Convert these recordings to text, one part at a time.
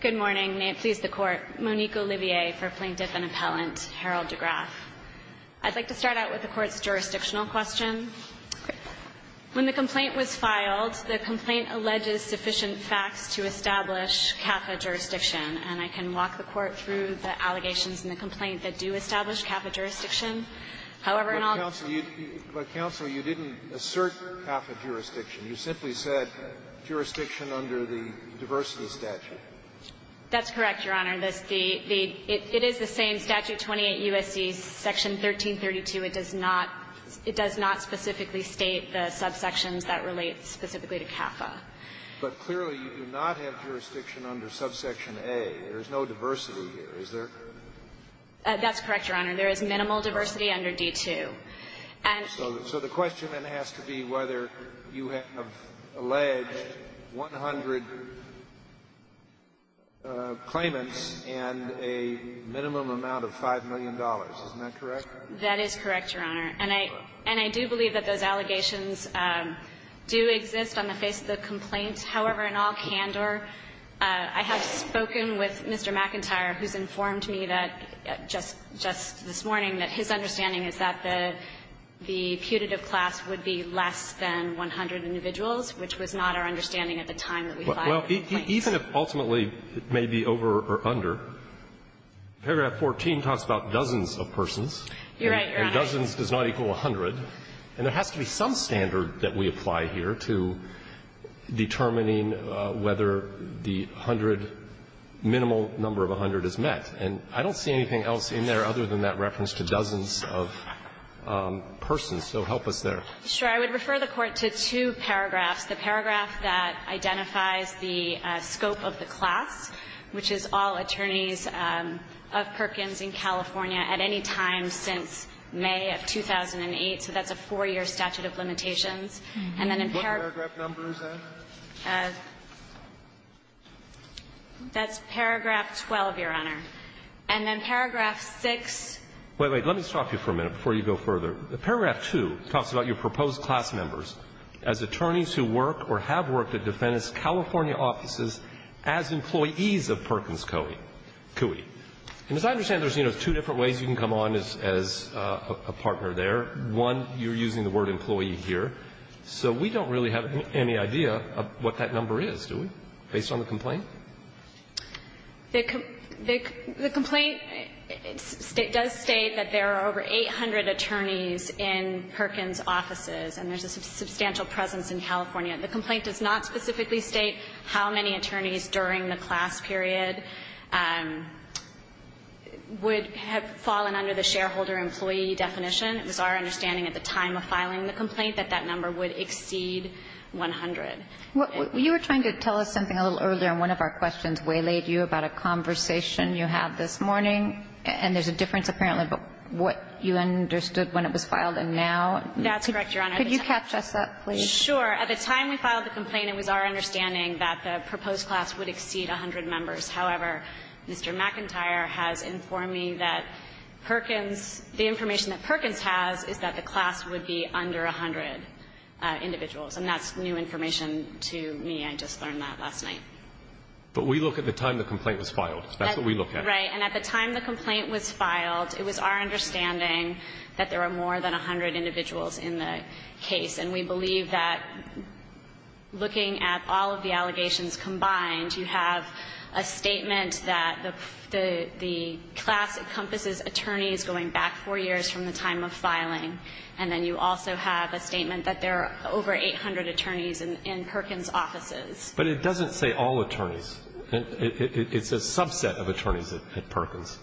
Good morning. May it please the Court. Monique Olivier for Plaintiff and Appellant, Harold DeGraff. I'd like to start out with the Court's jurisdictional question. When the complaint was filed, the complaint alleges sufficient facts to establish CAFA jurisdiction. And I can walk the Court through the allegations in the complaint that do establish CAFA jurisdiction. However, and I'll go to the Court. But, Counsel, you didn't assert CAFA jurisdiction. You simply said jurisdiction under the diversity statute. That's correct, Your Honor. It is the same statute, 28 U.S.C. section 1332. It does not specifically state the subsections that relate specifically to CAFA. But clearly, you do not have jurisdiction under subsection A. There is no diversity here. Is there? That's correct, Your Honor. There is minimal diversity under D-2. And so the question then has to be whether you have alleged 100 claimants and a minimum amount of $5 million, isn't that correct? That is correct, Your Honor. And I do believe that those allegations do exist on the face of the complaint. However, in all candor, I have spoken with Mr. McIntyre, who's informed me that just this morning, that his understanding is that the putative class would be less than 100 individuals, which was not our understanding at the time that we filed the complaint. Well, even if ultimately it may be over or under, paragraph 14 talks about dozens of persons. You're right, Your Honor. And dozens does not equal 100. And there has to be some standard that we apply here to determining whether the 100 minimal number of 100 is met. And I don't see anything else in there other than that reference to dozens of persons. So help us there. Sure. I would refer the Court to two paragraphs. The paragraph that identifies the scope of the class, which is all attorneys of Perkins in California at any time since May of 2008. So that's a four-year statute of limitations. statute of limitations. That's paragraph 12, Your Honor. And then paragraph 6. Wait, wait. Let me stop you for a minute before you go further. Paragraph 2 talks about your proposed class members as attorneys who work or have worked at defendant's California offices as employees of Perkins Coie. And as I understand, there's two different ways you can come on as a partner there. One, you're using the word employee here. So we don't really have any idea of what that number is, do we, based on the complaint? The complaint does state that there are over 800 attorneys in Perkins offices, and there's a substantial presence in California. The complaint does not specifically state how many attorneys during the class period would have fallen under the shareholder-employee definition. It was our understanding at the time of filing the complaint that that number would exceed 100. You were trying to tell us something a little earlier, and one of our questions waylaid you about a conversation you had this morning, and there's a difference, apparently, about what you understood when it was filed and now. That's correct, Your Honor. Could you catch us up, please? Sure. At the time we filed the complaint, it was our understanding that the proposed class would exceed 100 members. However, Mr. McIntyre has informed me that Perkins the information that Perkins has is that the class would be under 100 individuals, and that's new information to me. I just learned that last night. But we look at the time the complaint was filed. That's what we look at. Right. And at the time the complaint was filed, it was our understanding that there are more than 100 individuals in the case, and we believe that looking at all of the allegations combined, you have a statement that the class encompasses attorneys going back four years from the time of filing, and then you also have a statement that there are over 800 attorneys in Perkins' offices. But it doesn't say all attorneys. It's a subset of attorneys at Perkins.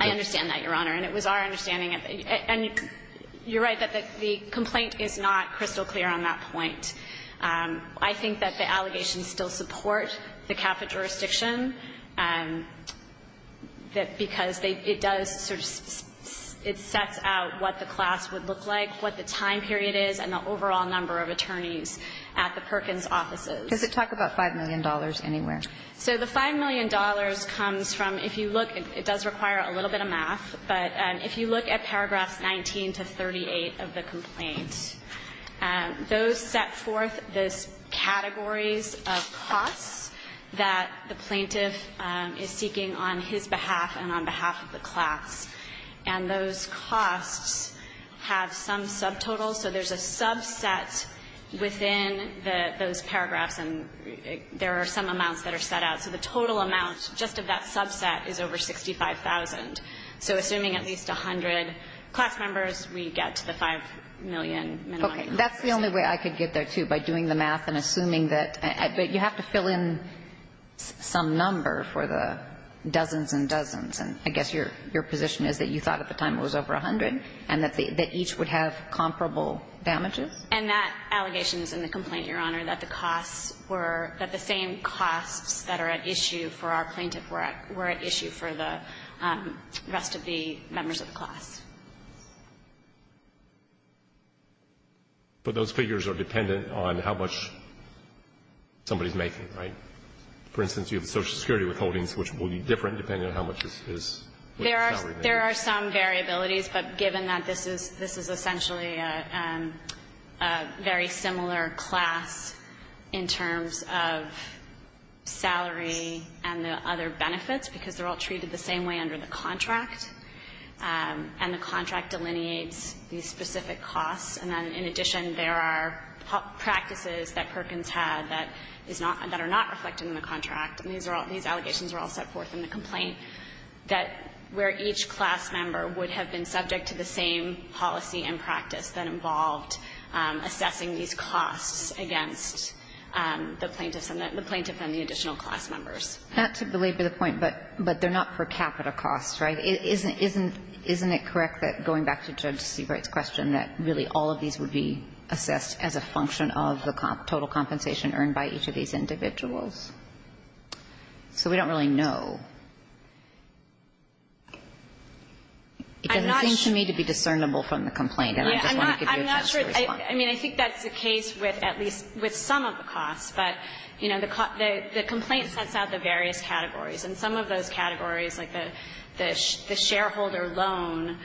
I understand that, Your Honor, and it was our understanding. And you're right that the complaint is not crystal clear on that point. I think that the allegations still support the CAFA jurisdiction because it does sort of set out what the class would look like, what the time period is, and the overall number of attorneys at the Perkins' offices. Does it talk about $5 million anywhere? So the $5 million comes from, if you look, it does require a little bit of math, but if you look at paragraphs 19 to 38 of the complaint, those set forth the categories of costs that the plaintiff is seeking on his behalf and on behalf of the class. And those costs have some subtotals, so there's a subset within those paragraphs and there are some amounts that are set out. So the total amount just of that subset is over $65,000. So assuming at least 100 class members, we get to the $5 million minimum. Okay. That's the only way I could get there, too, by doing the math and assuming that you have to fill in some number for the dozens and dozens. And I guess your position is that you thought at the time it was over 100 and that each would have comparable damages? And that allegation is in the complaint, Your Honor, that the costs were the same costs that are at issue for our plaintiff were at issue for the rest of the members of the class. But those figures are dependent on how much somebody is making, right? For instance, you have the Social Security withholdings, which will be different depending on how much is what salary they're getting. There are some variabilities, but given that this is essentially a very similar class in terms of salary and the other benefits, because they're all treated the same way under the contract, and the contract delineates these specific costs, and then in addition there are practices that Perkins had that are not reflected in the contract. And these are all – these allegations are all set forth in the complaint that where each class member would have been subject to the same policy and practice that involved assessing these costs against the plaintiffs and the plaintiff and the additional class members. Not to belabor the point, but they're not for capital costs, right? Isn't it correct that, going back to Judge Seabright's question, that really all of these would be assessed as a function of the total compensation earned by each of these individuals? So we don't really know. It doesn't seem to me to be discernible from the complaint, and I just want to give you a chance to respond. Yeah, I'm not sure. I mean, I think that's the case with at least – with some of the costs, but, you know, the complaint sets out the various categories, and some of those categories like the shareholder loan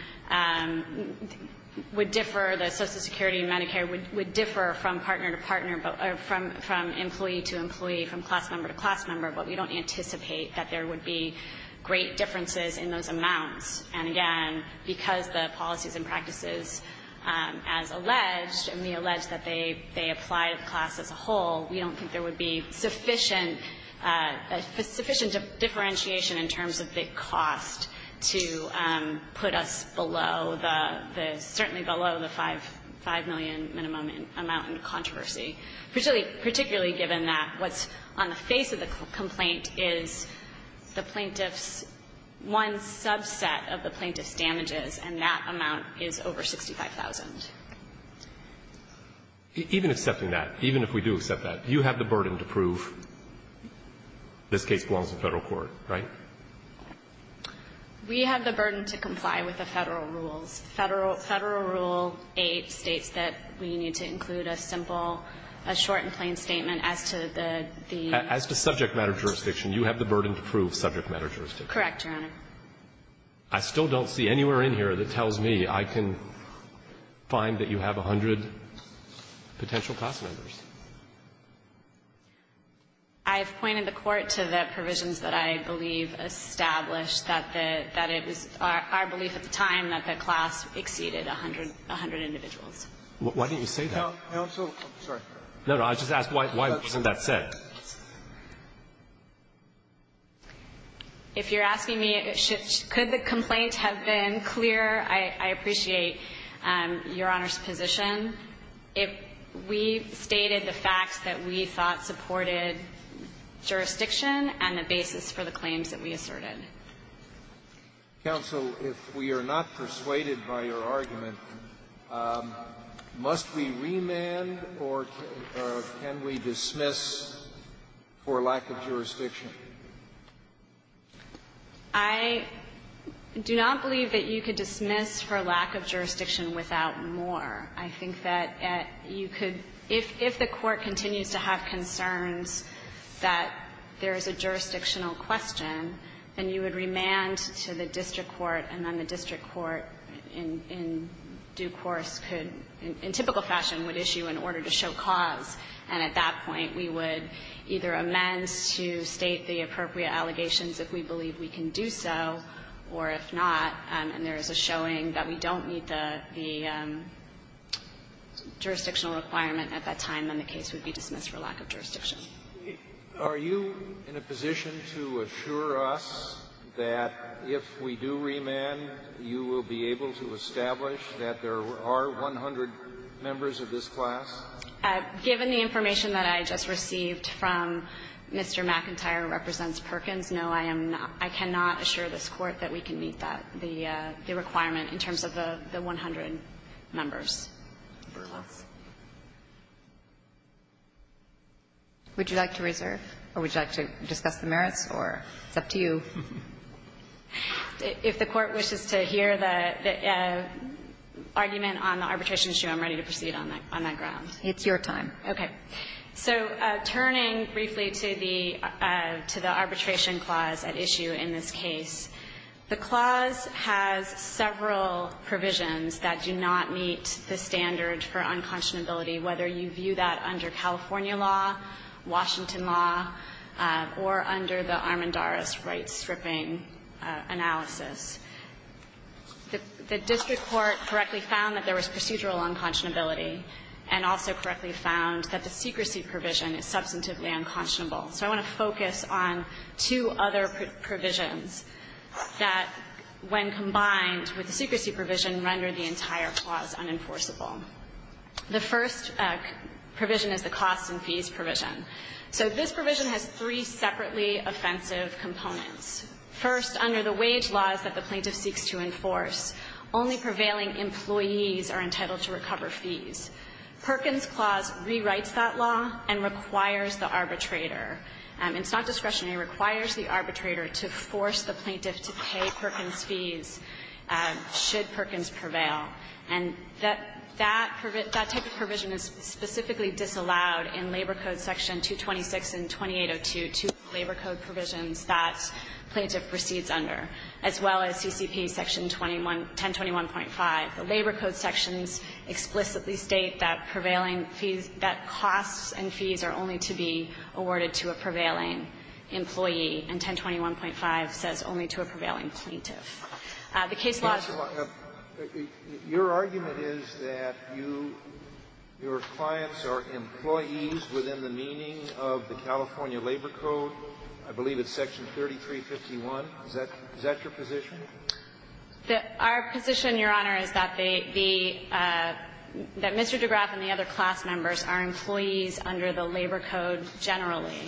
would differ, the Social Security and Medicare would differ from partner to partner, from employee to employee, from class member to class member, but we don't anticipate that there would be great differences in those amounts. And again, because the policies and practices as alleged, and we allege that they apply to the class as a whole, we don't think there would be sufficient differentiation in terms of the cost to put us below the – certainly below the 5 million minimum amount in controversy, particularly given that what's on the face of the complaint is the plaintiff's – one subset of the plaintiff's damages, and that amount is over $65,000. Even accepting that, even if we do accept that, you have the burden to prove this statement? We have the burden to comply with the Federal rules. Federal Rule 8 states that we need to include a simple – a short and plain statement as to the – As to subject matter jurisdiction. You have the burden to prove subject matter jurisdiction. Correct, Your Honor. I still don't see anywhere in here that tells me I can find that you have 100 potential class members. I've pointed the Court to the provisions that I believe established that the – that it was our belief at the time that the class exceeded 100 individuals. Why didn't you say that? I also – I'm sorry. No, no. I just asked why wasn't that said. If you're asking me, could the complaint have been clear? I appreciate Your Honor's position. We stated the facts that we thought supported jurisdiction and the basis for the claims that we asserted. Counsel, if we are not persuaded by your argument, must we remand or can we dismiss for lack of jurisdiction? I do not believe that you could dismiss for lack of jurisdiction without more. I think that you could – if the Court continues to have concerns that there is a jurisdictional question, then you would remand to the district court and then the district court in due course could – in typical fashion would issue an order to show cause. And at that point, we would either amend to state the appropriate allegations if we believe we can do so, or if not, and there is a showing that we don't meet the jurisdictional requirement at that time, then the case would be dismissed for lack of jurisdiction. Are you in a position to assure us that if we do remand, you will be able to establish that there are 100 members of this class? Given the information that I just received from Mr. McIntyre represents Perkins, no, I am not – I cannot assure this Court that we can meet that, the requirement in terms of the 100 members. Would you like to reserve, or would you like to discuss the merits, or it's up to you? If the Court wishes to hear the argument on the arbitration issue, I'm ready to proceed on that ground. It's your time. Okay. So turning briefly to the – to the arbitration clause at issue in this case, the clause has several provisions that do not meet the standard for unconscionability, whether you view that under California law, Washington law, or under the Armendariz right-stripping analysis. The district court correctly found that there was procedural unconscionability and also correctly found that the secrecy provision is substantively unconscionable. So I want to focus on two other provisions that, when combined with the secrecy provision, render the entire clause unenforceable. The first provision is the costs and fees provision. So this provision has three separately offensive components. First, under the wage laws that the plaintiff seeks to enforce, only prevailing employees are entitled to recover fees. Perkins clause rewrites that law and requires the arbitrator. It's not discretionary. It requires the arbitrator to force the plaintiff to pay Perkins fees should Perkins prevail. And that type of provision is specifically disallowed in Labor Code section 226 and 227 that the plaintiff proceeds under, as well as CCP section 1021.5. The Labor Code sections explicitly state that prevailing fees, that costs and fees are only to be awarded to a prevailing employee, and 1021.5 says only to a prevailing plaintiff. The case law to my left, your argument is that you, your clients are employees within the meaning of the California Labor Code. I believe it's section 3351. Is that your position? Our position, Your Honor, is that the Mr. Degraff and the other class members are employees under the Labor Code generally,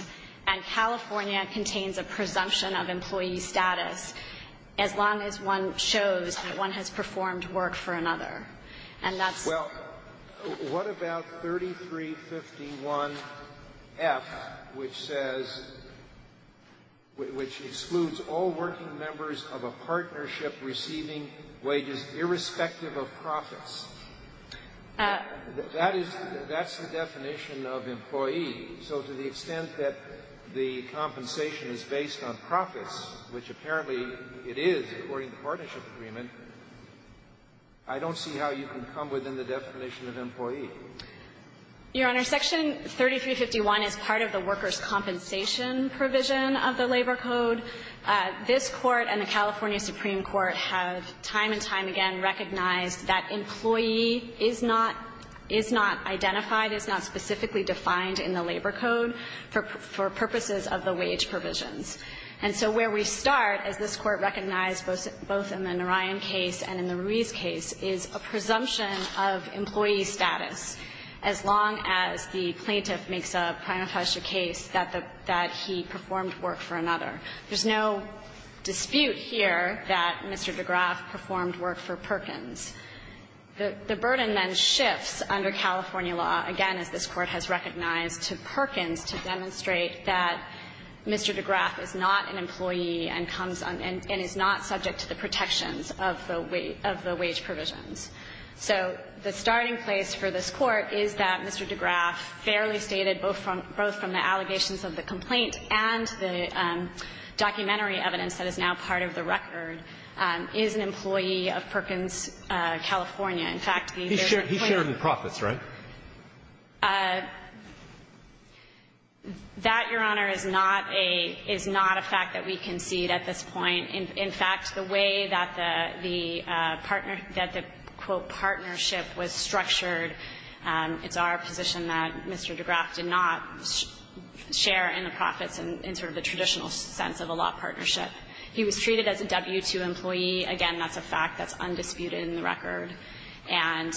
and California contains a presumption of employee status as long as one shows that one has performed work for another. And that's the case. Well, what about 3351.f, which says, which excludes all working members of a partnership receiving wages irrespective of profits? That is, that's the definition of employee. So to the extent that the compensation is based on profits, which apparently it is according to partnership agreement, I don't see how you can come within the definition of employee. Your Honor, section 3351 is part of the workers' compensation provision of the Labor Code. This Court and the California Supreme Court have time and time again recognized that employee is not, is not identified, is not specifically defined in the Labor Code for purposes of the wage provisions. And so where we start, as this Court recognized both in the Narayan case and in the Ruiz case, is a presumption of employee status as long as the plaintiff makes a primitive case that the he performed work for another. There's no dispute here that Mr. Degraff performed work for Perkins. The burden then shifts under California law, again, as this Court has recognized, to Perkins to demonstrate that Mr. Degraff is not an employee and comes on and is not subject to the protections of the wage provisions. So the starting place for this Court is that Mr. Degraff, fairly stated both from the allegations of the complaint and the documentary evidence that is now part of the California. In fact, the different plaintiffs ---- Roberts. He shared in the profits, right? That, Your Honor, is not a fact that we concede at this point. In fact, the way that the partnership was structured, it's our position that Mr. Degraff did not share in the profits in sort of the traditional sense of a law partnership. He was treated as a W-2 employee. Again, that's a fact that's undisputed in the record. And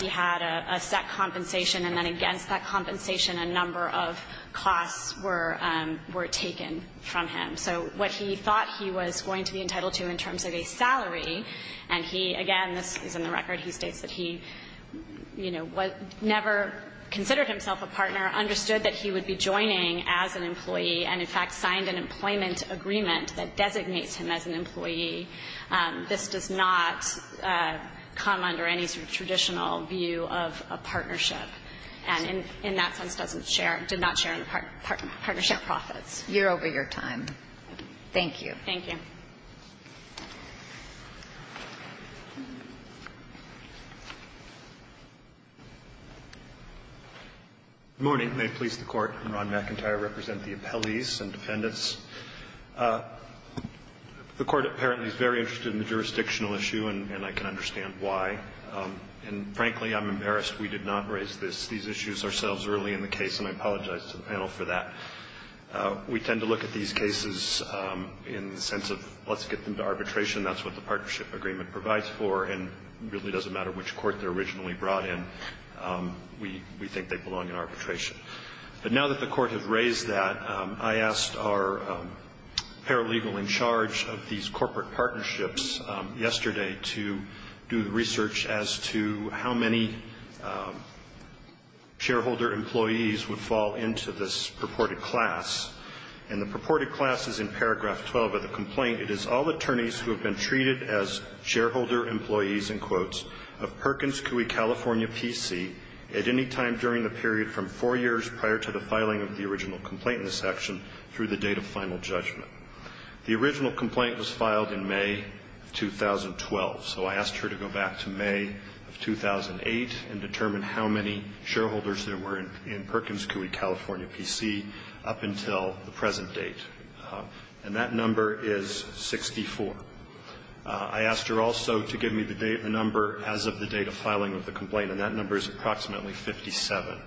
he had a set compensation, and then against that compensation a number of costs were taken from him. So what he thought he was going to be entitled to in terms of a salary, and he, again, this is in the record, he states that he, you know, never considered himself a partner, understood that he would be joining as an employee, and in fact signed an employment agreement that designates him as an employee. This does not come under any sort of traditional view of a partnership, and in that sense doesn't share, did not share in the partnership profits. You're over your time. Thank you. Thank you. Good morning. May it please the Court. I'm Ron McIntyre. I represent the appellees and defendants. The Court apparently is very interested in the jurisdictional issue, and I can understand why, and frankly, I'm embarrassed we did not raise this, these issues ourselves early in the case, and I apologize to the panel for that. We tend to look at these cases in the sense of let's get them to arbitration. That's what the partnership agreement provides for, and it really doesn't matter which court they're originally brought in. We think they belong in arbitration. But now that the Court has raised that, I asked our paralegal in charge of these corporate partnerships yesterday to do the research as to how many shareholder employees would fall into this purported class, and the purported class is in paragraph 12 of the complaint. It is all attorneys who have been treated as shareholder employees, in quotes, of prior to the filing of the original complaint in the section through the date of final judgment. The original complaint was filed in May of 2012, so I asked her to go back to May of 2008 and determine how many shareholders there were in Perkins Coie, California, P.C., up until the present date. And that number is 64. I asked her also to give me the number as of the date of filing of the complaint, and that number is approximately 57.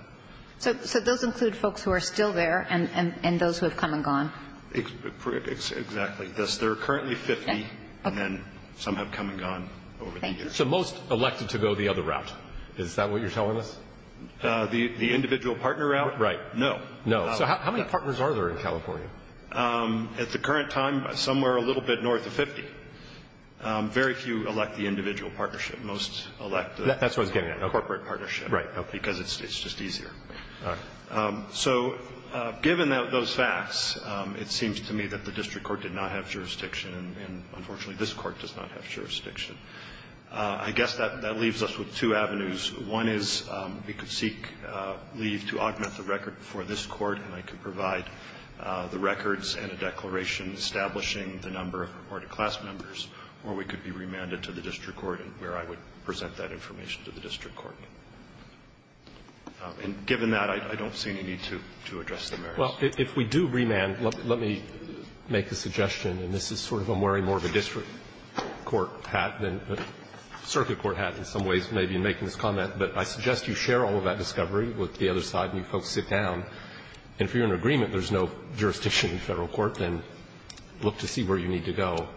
So those include folks who are still there and those who have come and gone? Exactly. There are currently 50, and then some have come and gone over the years. So most elected to go the other route. Is that what you're telling us? The individual partner route? Right. No. No. So how many partners are there in California? At the current time, somewhere a little bit north of 50. Very few elect the individual partnership. Most elect the corporate partnership, because it's just easier. All right. So given those facts, it seems to me that the district court did not have jurisdiction, and unfortunately, this Court does not have jurisdiction. I guess that leaves us with two avenues. One is we could seek leave to augment the record before this Court, and I could provide the records and a declaration establishing the number or the class members, or we could be remanded to the district court, where I would present that information to the district court. And given that, I don't see any need to address the merits. Well, if we do remand, let me make a suggestion, and this is sort of I'm wearing more of a district court hat than a circuit court hat in some ways, maybe, in making this comment, but I suggest you share all of that discovery with the other side and you folks sit down, and if you're in agreement there's no jurisdiction in federal court, then look to see where you need to go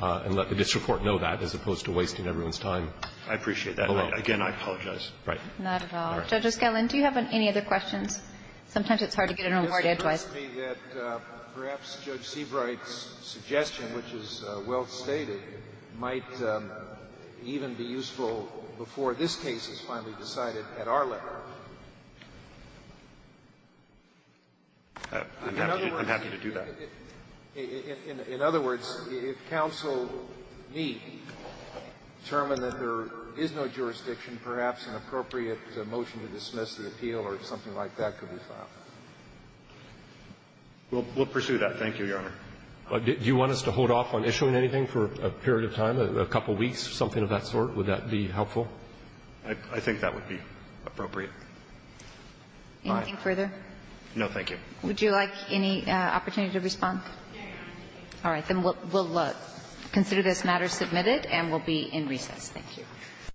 and let the district court know that as opposed to wasting everyone's time alone. I appreciate that. Again, I apologize. Right. Not at all. Judge O'Skellin, do you have any other questions? Sometimes it's hard to get in a room where you have twice. It seems to me that perhaps Judge Seabright's suggestion, which is well stated, might even be useful before this case is finally decided at our level. I'm happy to do that. In other words, if counsel need to determine that there is no jurisdiction, perhaps an appropriate motion to dismiss the appeal or something like that could be found. We'll pursue that. Thank you, Your Honor. Do you want us to hold off on issuing anything for a period of time, a couple of weeks, something of that sort? Would that be helpful? I think that would be appropriate. Anything further? No, thank you. Would you like any opportunity to respond? No, Your Honor. All right, then we'll consider this matter submitted and we'll be in recess. Thank you.